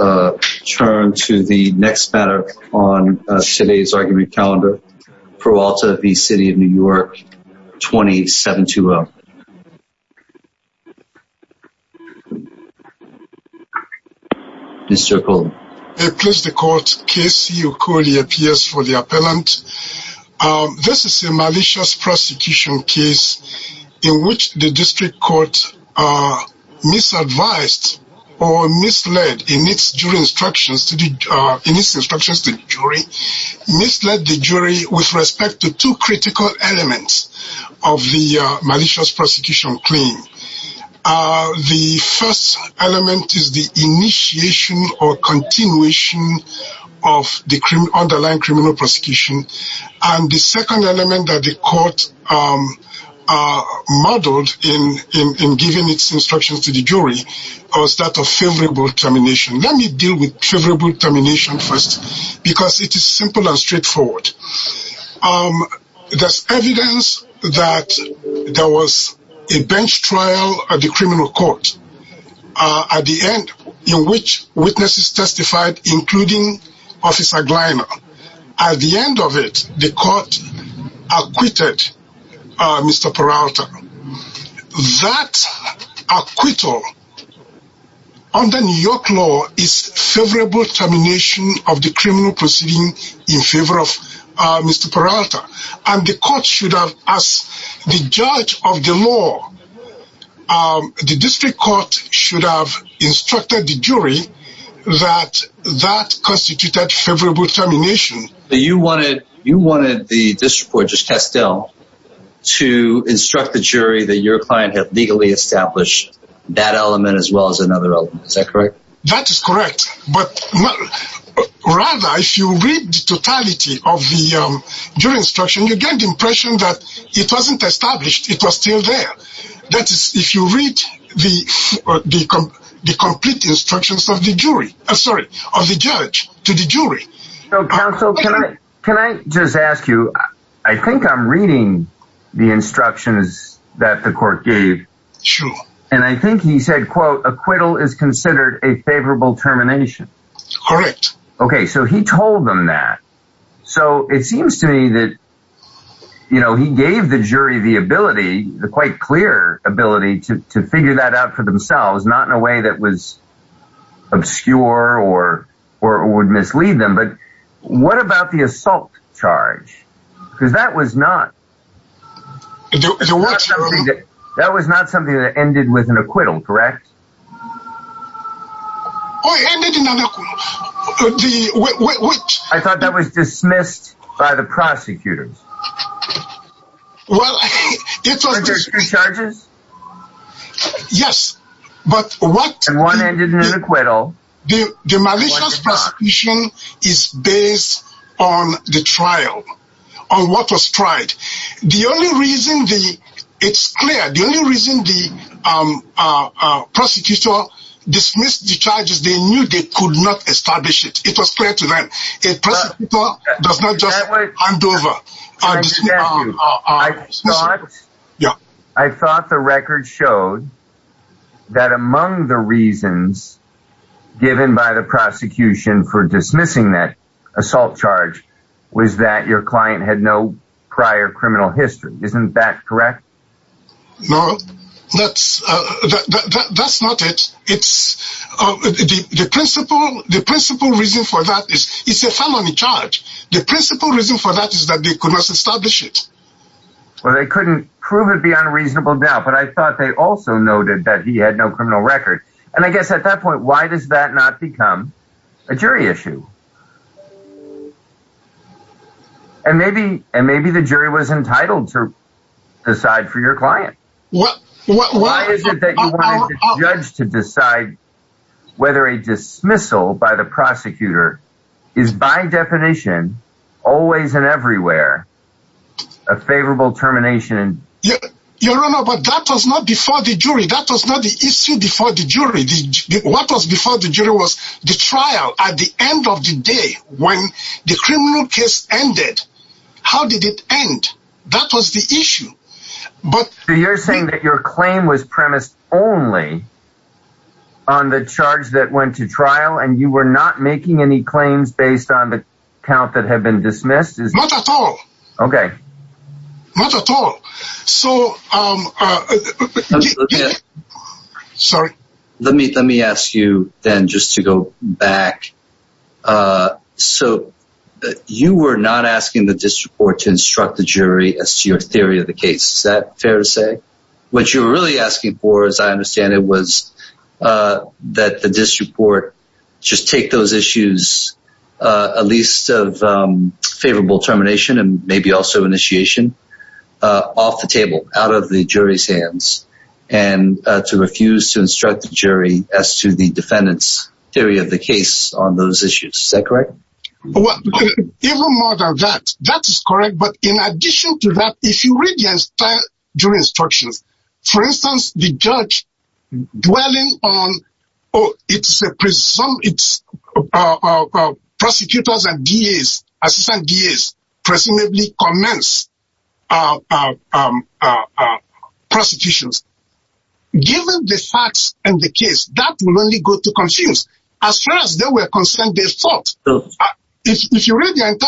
Turn to the next matter on today's argument calendar Peralta v. City of New York 27 to Circle a place the court case you could he appears for the appellant This is a malicious prosecution case in which the district court Misadvised or misled in its jury instructions to the instructions to jury Misled the jury with respect to two critical elements of the malicious prosecution claim the first element is the initiation or continuation of the underlying criminal prosecution and the second element that the court Are modeled in in giving its instructions to the jury or start a favorable termination Let me deal with favorable termination first because it is simple and straightforward There's evidence that There was a bench trial at the criminal court At the end in which witnesses testified including officer Gleimer at the end of it the court Acquitted mr. Peralta that acquittal Under New York law is favorable termination of the criminal proceeding in favor of mr Peralta and the court should have as the judge of the law The district court should have instructed the jury that that Unconstituted favorable termination that you wanted you wanted the district court just test still To instruct the jury that your client had legally established that element as well as another element. Is that correct? That is correct, but Rather if you read the totality of the jury instruction, you get the impression that it wasn't established It was still there. That is if you read the The complete instructions of the jury, I'm sorry of the judge to the jury Can I just ask you I think I'm reading the instructions that the court gave Sure, and I think he said quote acquittal is considered a favorable termination Correct. Okay, so he told them that so it seems to me that You know, he gave the jury the ability the quite clear ability to figure that out for themselves not in a way that was Obscure or or would mislead them. But what about the assault charge? Because that was not That was not something that ended with an acquittal, correct I Thought that was dismissed by the prosecutors Yes, but what one ended in an acquittal the demolition Prohibition is based on the trial on what was tried. The only reason the it's clear the only reason the Prosecutor dismissed the charges. They knew they could not establish it. It was clear to them. It does not just Yeah, I thought the record showed that among the reasons Given by the prosecution for dismissing that assault charge was that your client had no prior criminal history Isn't that correct? No, that's That's not it. It's The principle the principle reason for that is it's a felony charge. The principle reason for that is that they could not establish it Well, they couldn't prove it beyond a reasonable doubt But I thought they also noted that he had no criminal record and I guess at that point Why does that not become a jury issue? And Maybe and maybe the jury was entitled to decide for your client. What? Judge to decide whether a dismissal by the prosecutor is by definition always and everywhere a favorable termination Your honor, but that was not before the jury. That was not the issue before the jury What was before the jury was the trial at the end of the day when the criminal case ended How did it end? That was the issue? But you're saying that your claim was premised only on the charge that went to trial and you were not making any claims based on the Count that have been dismissed is not at all. Okay not at all, so I Sorry, let me let me ask you then just to go back So You were not asking the district court to instruct the jury as to your theory of the case Is that fair to say what you're really asking for as I understand it was That the district court just take those issues at least of favorable termination and maybe also initiation Off the table out of the jury's hands and To refuse to instruct the jury as to the defendants theory of the case on those issues. Is that correct? That's correct, but in addition to that if you read your instructions, for instance the judge dwelling on oh, it's a prison it's Prosecutors and DAs Presumably commence Prostitutions Given the facts and the case that will only go to confuse as far as they were concerned. They thought if you read Let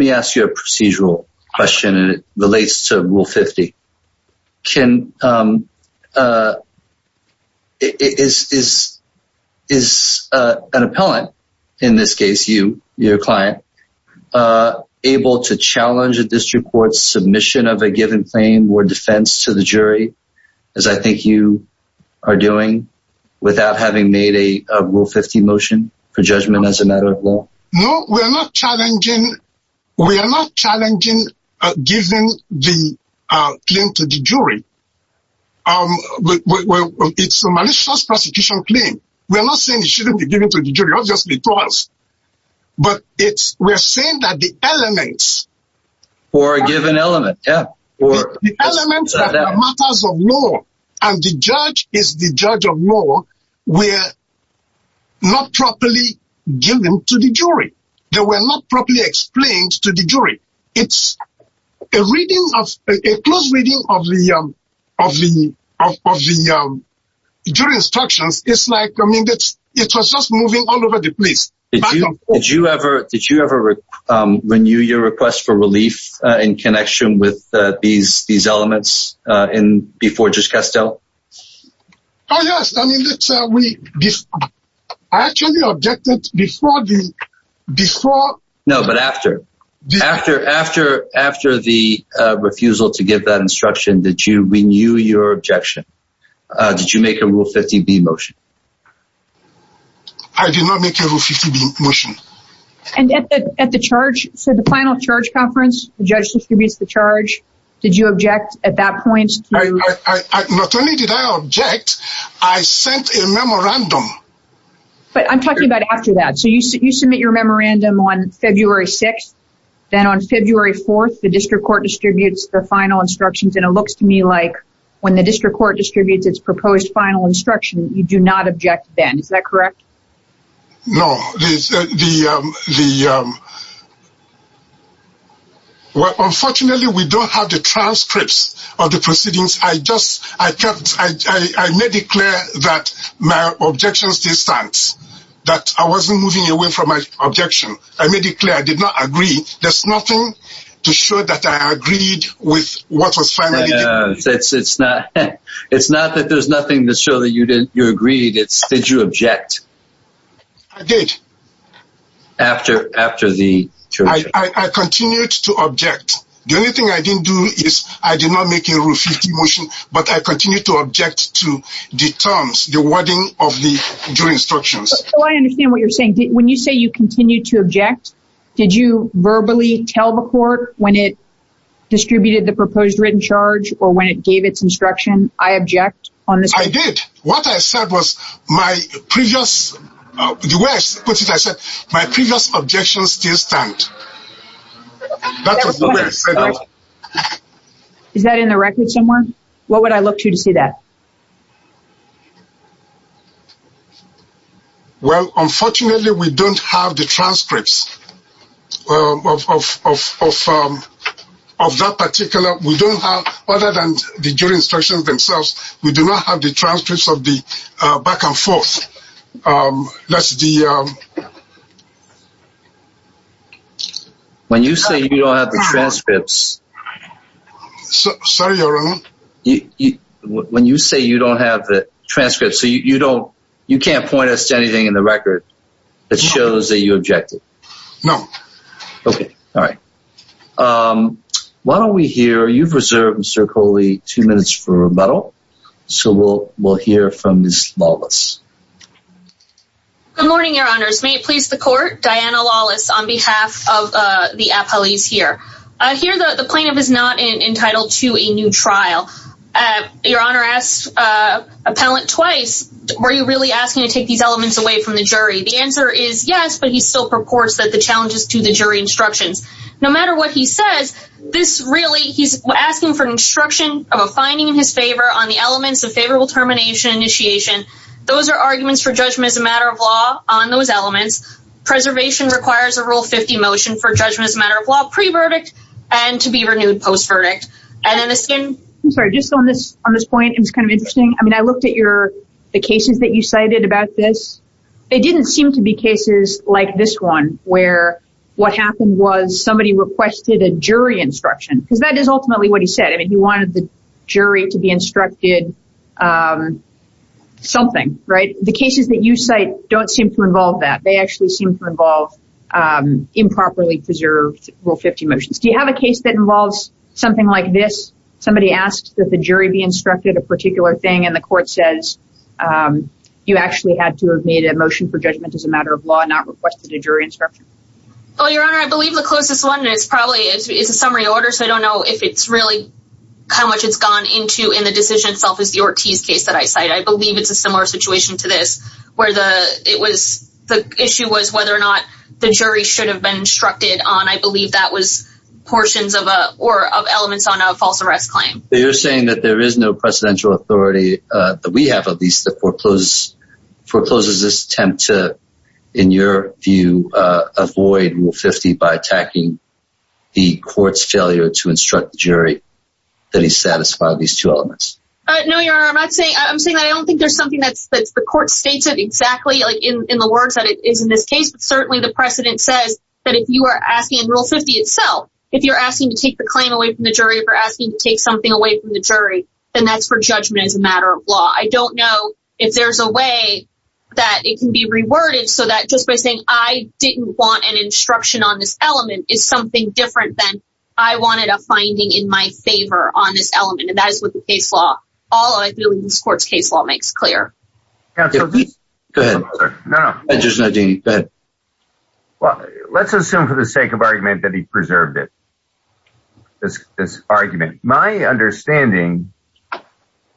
me ask you a procedural question and it relates to rule 50 can It is Is an appellant in this case you your client Able to challenge a district court submission of a given claim or defense to the jury as I think you are doing Without having made a rule 50 motion for judgment as a matter of law. No, we're not challenging We are not challenging giving the claim to the jury Um It's a malicious prosecution claim. We're not saying it shouldn't be given to the jury. I've just because But it's we're saying that the elements for a given element Matters of law and the judge is the judge of law. We're Not properly given to the jury. They were not properly explained to the jury. It's a Close reading of the Jury instructions. It's like I mean, it's it was just moving all over the place. Thank you. Did you ever did you ever? Renew your request for relief in connection with these these elements in before just Castile Oh, yes, I mean, let's say we Actually objected before the before no, but after after after after the Refusal to give that instruction. Did you renew your objection? Did you make a rule 50 B motion? I? Do not make a motion And at the charge for the final charge conference the judge distributes the charge. Did you object at that point? I sent a memorandum But I'm talking about after that so you submit your memorandum on February 6th Then on February 4th, the district court distributes the final instructions and it looks to me like when the district court distributes It's proposed final instruction. You do not object then. Is that correct? no, the the Well, unfortunately, we don't have the transcripts of the proceedings I just I kept I Made it clear that my objections distance that I wasn't moving away from my objection I made it clear. I did not agree. There's nothing to show that I agreed with what was fine It's it's not it's not that there's nothing to show that you didn't you agreed. It's did you object? I did After after the Continued to object. The only thing I didn't do is I did not make a rule 50 motion But I continue to object to the terms the wording of the jury instructions I understand what you're saying when you say you continue to object. Did you verbally tell the court when it? Distributed the proposed written charge or when it gave its instruction. I object on this. I did what I said was my previous Objection still stand Is that in the record somewhere what would I look to to see that Well, unfortunately, we don't have the transcripts Of that particular we don't have other than the jury instructions themselves. We do not have the transcripts of the back and forth that's the When you say you don't have the transcripts Sorry around you When you say you don't have the transcripts, so you don't you can't point us to anything in the record It shows that you objected. No Okay. All right Why don't we hear you've reserved mr. Coley two minutes for rebuttal so we'll we'll hear from this flawless Good morning, your honors may it please the court Diana lawless on behalf of the appellees here I hear that the plaintiff is not entitled to a new trial your honor asked Appellant twice. Were you really asking to take these elements away from the jury? The answer is yes But he still purports that the challenges to the jury instructions no matter what he says this really he's asking for an instruction Of a finding in his favor on the elements of favorable termination initiation Those are arguments for judgment as a matter of law on those elements preservation requires a rule 50 motion for judgment as a matter of law pre verdict and To be renewed post verdict and then the skin. I'm sorry just on this on this point. It was kind of interesting I mean, I looked at your the cases that you cited about this It didn't seem to be cases like this one where? What happened was somebody requested a jury instruction because that is ultimately what he said. I mean he wanted the jury to be instructed Something right the cases that you cite don't seem to involve that they actually seem to involve Improperly preserved rule 50 motions. Do you have a case that involves something like this? Somebody asked that the jury be instructed a particular thing and the court says You actually had to have made a motion for judgment as a matter of law not requested a jury instruction Oh your honor. I believe the closest one is probably it's a summary order So, I don't know if it's really how much it's gone into in the decision-making process Ortiz case that I cite I believe it's a similar situation to this where the it was the issue was whether or not the jury Should have been instructed on I believe that was Portions of a or of elements on a false arrest claim. You're saying that there is no presidential authority That we have of these that forecloses forecloses this attempt to in your view Avoid rule 50 by attacking the courts failure to instruct the jury that he satisfied these two elements No, you're not saying I'm saying I don't think there's something that's that's the court states It exactly like in the words that it is in this case but certainly the precedent says that if you are asking in rule 50 itself if you're asking to take the claim away from the jury If you're asking to take something away from the jury, then that's for judgment as a matter of law I don't know if there's a way that it can be reworded so that just by saying I Didn't want an instruction on this element is something different than I wanted a finding in my favor on this element And that is what the case law all I feel in this court's case law makes clear Well, let's assume for the sake of argument that he preserved it this argument my understanding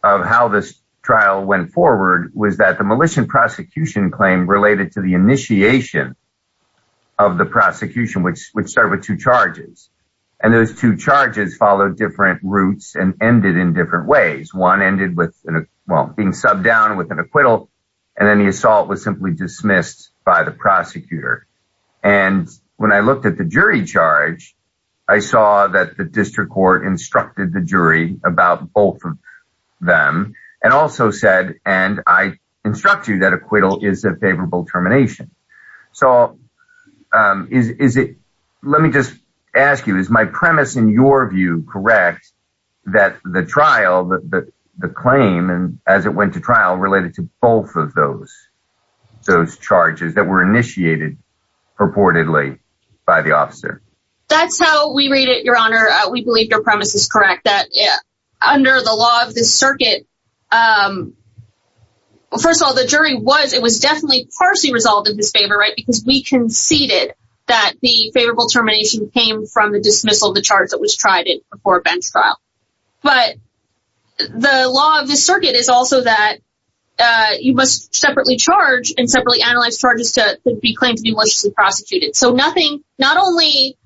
of how this trial went forward was that the militia prosecution claim related to the initiation of Prosecution which which started with two charges and those two charges followed different routes and ended in different ways one ended with well being subbed down with an acquittal and then the assault was simply dismissed by the prosecutor and When I looked at the jury charge, I saw that the district court instructed the jury about both of them And also said and I instruct you that acquittal is a favorable termination so Is is it let me just ask you is my premise in your view, correct? That the trial that the claim and as it went to trial related to both of those Those charges that were initiated purportedly by the officer That's how we read it. Your honor. We believe your premise is correct that yeah under the law of the circuit First of all, the jury was it was definitely partially resolved in his favor, right because we conceded that the favorable termination came from the dismissal of the charge that was tried it before a bench trial, but the law of the circuit is also that You must separately charge and separately analyze charges to be claimed to be maliciously prosecuted. So nothing not only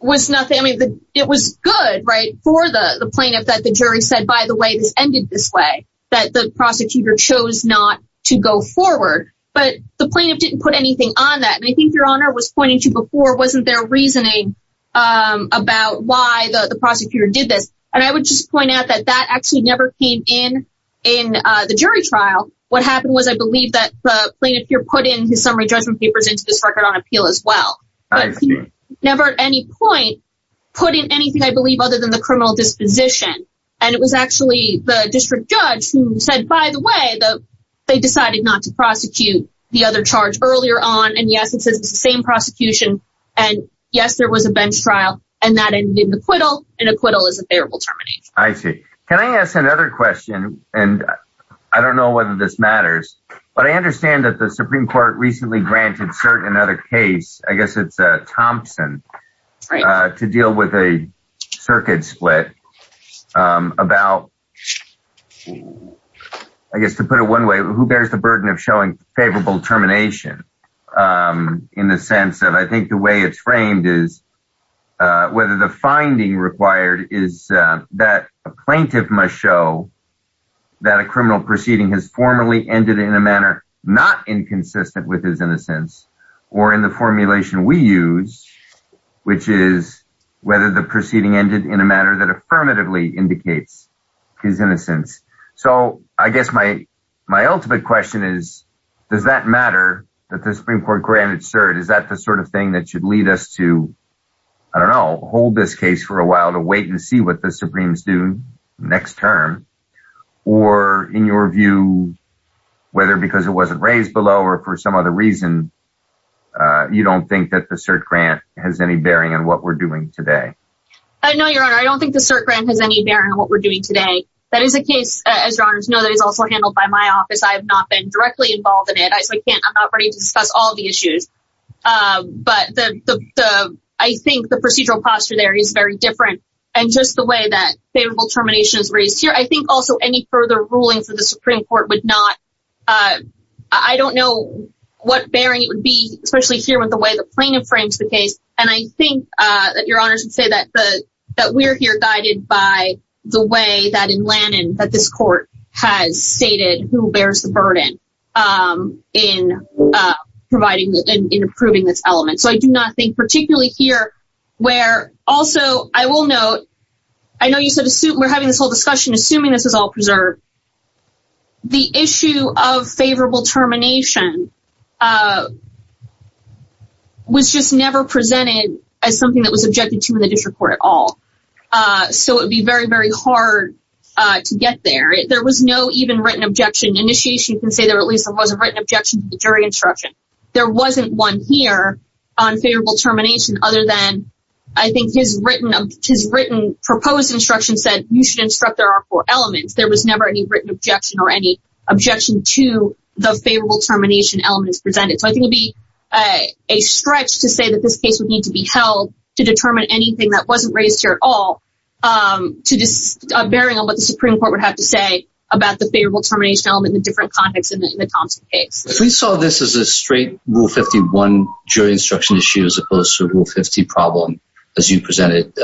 Was nothing I mean it was good right for the the plaintiff that the jury said by the way This ended this way that the prosecutor chose not to go forward But the plaintiff didn't put anything on that and I think your honor was pointing to before wasn't there reasoning? About why the the prosecutor did this and I would just point out that that actually never came in in The jury trial what happened was I believe that the plaintiff here put in his summary judgment papers into this record on appeal as well Never at any point Putting anything I believe other than the criminal disposition and it was actually the district judge who said by the way, though They decided not to prosecute the other charge earlier on and yes, it says the same prosecution and yes There was a bench trial and that ended the acquittal and acquittal is a favorable termination I see can I ask another question and I don't know whether this matters But I understand that the Supreme Court recently granted certain another case. I guess it's a Thompson To deal with a circuit split about I Guess to put it one way who bears the burden of showing favorable termination in the sense that I think the way it's framed is whether the finding required is that a plaintiff must show That a criminal proceeding has formally ended in a manner not inconsistent with his innocence or in the formulation we use which is whether the proceeding ended in a manner that affirmatively indicates his innocence So I guess my my ultimate question is does that matter that the Supreme Court granted? Sir, is that the sort of thing that should lead us to I don't know hold this case for a while to wait and see What the Supremes do next term or in your view? Whether because it wasn't raised below or for some other reason You don't think that the cert grant has any bearing on what we're doing today I know your honor. I don't think the cert grant has any bearing on what we're doing today That is a case as runners know that is also handled by my office. I have not been directly involved in it I can't I'm not ready to discuss all the issues But the I think the procedural posture there is very different and just the way that favorable termination is raised here I think also any further rulings of the Supreme Court would not I don't know what bearing it would be especially here with the way the plaintiff frames the case and I think that your honors would say that the that we're here guided by the way that in Lannan that this court has stated who bears the burden in Providing in approving this element. So I do not think particularly here where also I will note I know you said a suit we're having this whole discussion assuming this is all preserved The issue of favorable termination Was just never presented as something that was objected to in the district court at all So it would be very very hard To get there. There was no even written objection initiation can say there at least it wasn't written objection to the jury instruction There wasn't one here on favorable termination other than I think his written of his written Proposed instruction said you should instruct there are four elements There was never any written objection or any objection to the favorable termination elements presented So I think it'd be a a stretch to say that this case would need to be held to determine anything That wasn't raised here at all to this Bearing on what the Supreme Court would have to say about the favorable termination element in different context in the Thompson case We saw this as a straight rule 51 jury instruction issue as opposed to rule 50 problem as you presented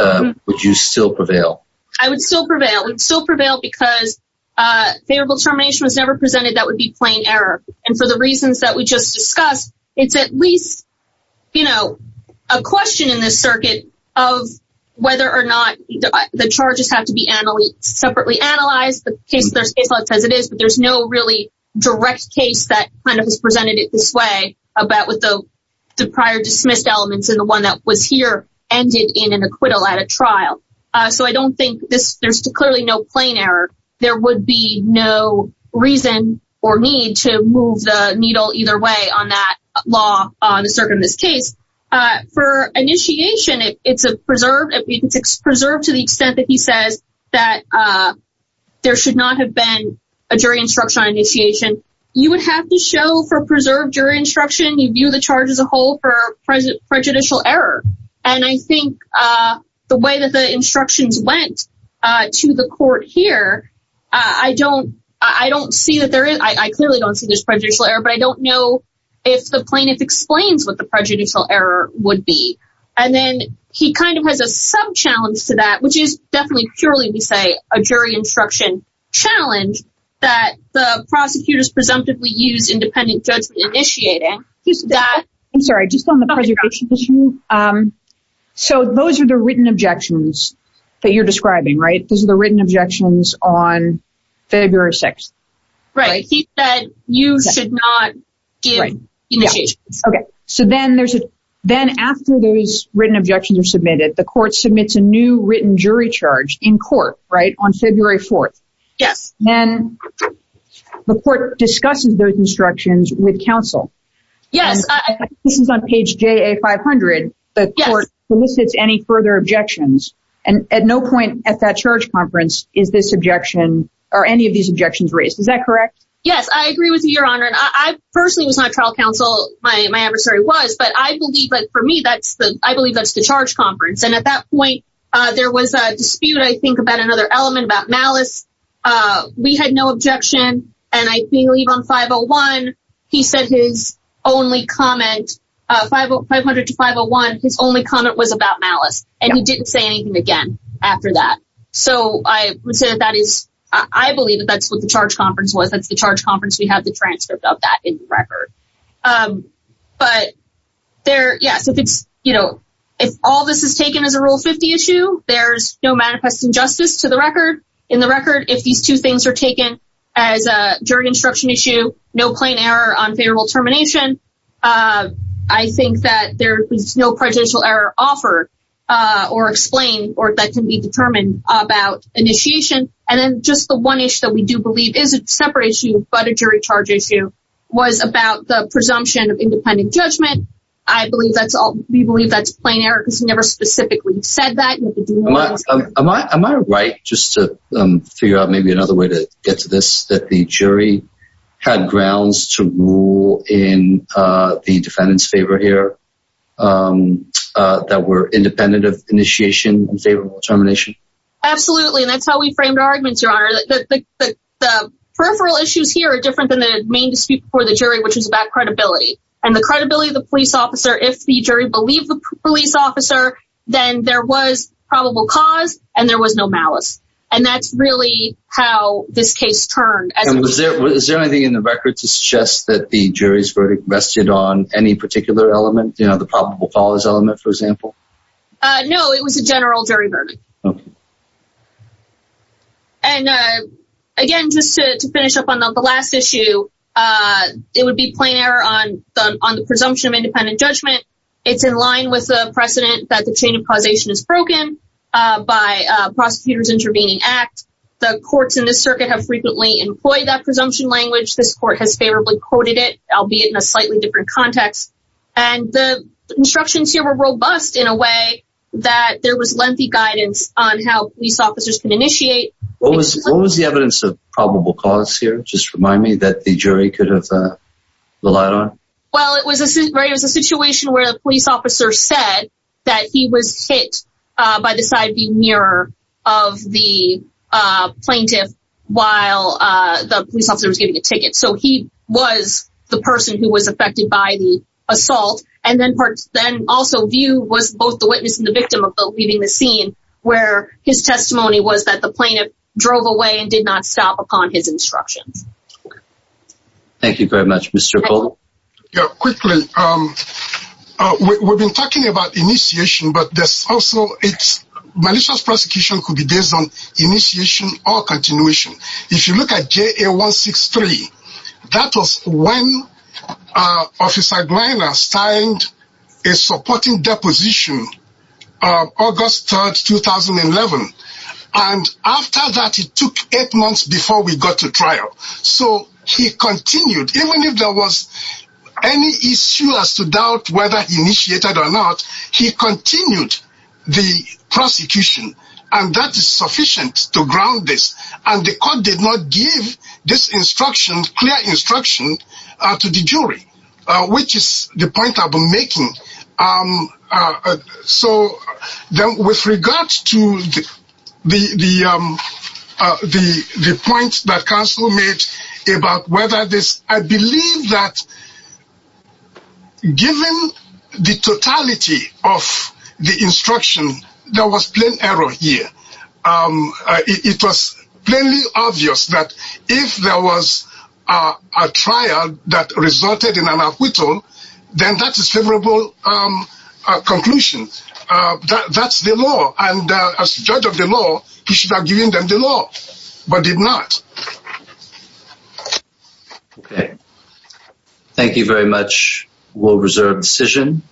Would you still prevail I would still prevail and still prevail because Favorable termination was never presented. That would be plain error. And for the reasons that we just discussed. It's at least you know a question in this circuit of Whether or not the charges have to be Emily separately analyzed the case There's a thought as it is but there's no really direct case that kind of has presented it this way about with the Prior dismissed elements in the one that was here ended in an acquittal at a trial So I don't think this there's clearly no plain error. There would be no Reason or need to move the needle either way on that law on the circuit in this case for initiation, it's a preserved it's preserved to the extent that he says that There should not have been a jury instruction initiation. You would have to show for preserved your instruction You view the charge as a whole for present prejudicial error, and I think the way that the instructions went To the court here. I don't I don't see that there is I clearly don't see this prejudicial error but I don't know if the plaintiff explains what the prejudicial error would be and then he kind of has a Subchallenge to that which is definitely purely we say a jury instruction Challenge that the prosecutors presumptively use independent judgment initiating that I'm sorry just on the So those are the written objections that you're describing right those are the written objections on February 6th, right? Okay, so then there's a then after those written objections are submitted the court submits a new written jury charge in court Right on February 4th. Yes, then The court discusses those instructions with counsel. Yes This is on page j a 500 the court solicits any further objections and at no point at that charge conference Is this objection or any of these objections raised? Is that correct? Yes. I agree with your honor And I personally was not trial counsel My adversary was but I believe but for me that's the I believe that's the charge conference and at that point There was a dispute I think about another element about malice We had no objection and I believe on 501. He said his only comment 500 to 501 his only comment was about malice and he didn't say anything again after that So I would say that is I believe that that's what the charge conference was. That's the charge conference We have the transcript of that in record but There yes, if it's you know, if all this is taken as a rule 50 issue there's no manifest injustice to the record in the record if these two things are taken as a jury instruction issue no plain error on favorable termination I think that there is no prejudicial error offer Or explain or that can be determined about initiation and then just the one issue that we do believe is a separate issue But a jury charge issue was about the presumption of independent judgment I believe that's all we believe that's plain Eric has never specifically said that Am I am I right just to figure out maybe another way to get to this that the jury? Had grounds to rule in the defendants favor here That were independent of initiation and favorable termination absolutely, and that's how we framed arguments your honor that the Peripheral issues here are different than the main dispute for the jury Which is about credibility and the credibility of the police officer if the jury believed the police officer Then there was probable cause and there was no malice and that's really how this case turned Is there anything in the record to suggest that the jury's verdict rested on any particular element? You know the probable cause element for example No, it was a general jury verdict and Again just to finish up on the last issue It would be plain error on on the presumption of independent judgment It's in line with the precedent that the chain of causation is broken By prosecutors intervening act the courts in this circuit have frequently employed that presumption language this court has favorably quoted it albeit in a slightly different context and the Instructions here were robust in a way that there was lengthy guidance on how police officers can initiate What was the evidence of probable cause here? Just remind me that the jury could have The light on well, it was a situation where the police officer said that he was hit by the side view mirror of the plaintiff while The police officer was giving a ticket so he was the person who was affected by the Assault and then parts then also view was both the witness and the victim of the leaving the scene Where his testimony was that the plaintiff drove away and did not stop upon his instructions Thank you very much. Mr. Cole. Yeah quickly We've been talking about initiation, but this also it's malicious prosecution could be based on initiation or continuation If you look at ja163 that was when Officer Griner signed a supporting deposition August 3rd 2011 and After that, it took eight months before we got to trial. So he continued even if there was Any issue as to doubt whether initiated or not. He continued the Prosecution and that is sufficient to ground this and the court did not give this instruction clear instruction to the jury Which is the point of making? So then with regards to the the The the points that council made about whether this I believe that Given the totality of the instruction there was plain error here It was plainly obvious that if there was a trial that resulted in an acquittal Then that is favorable Conclusion that that's the law and as judge of the law, you should have given them the law but did not Okay, thank you very much will reserve decision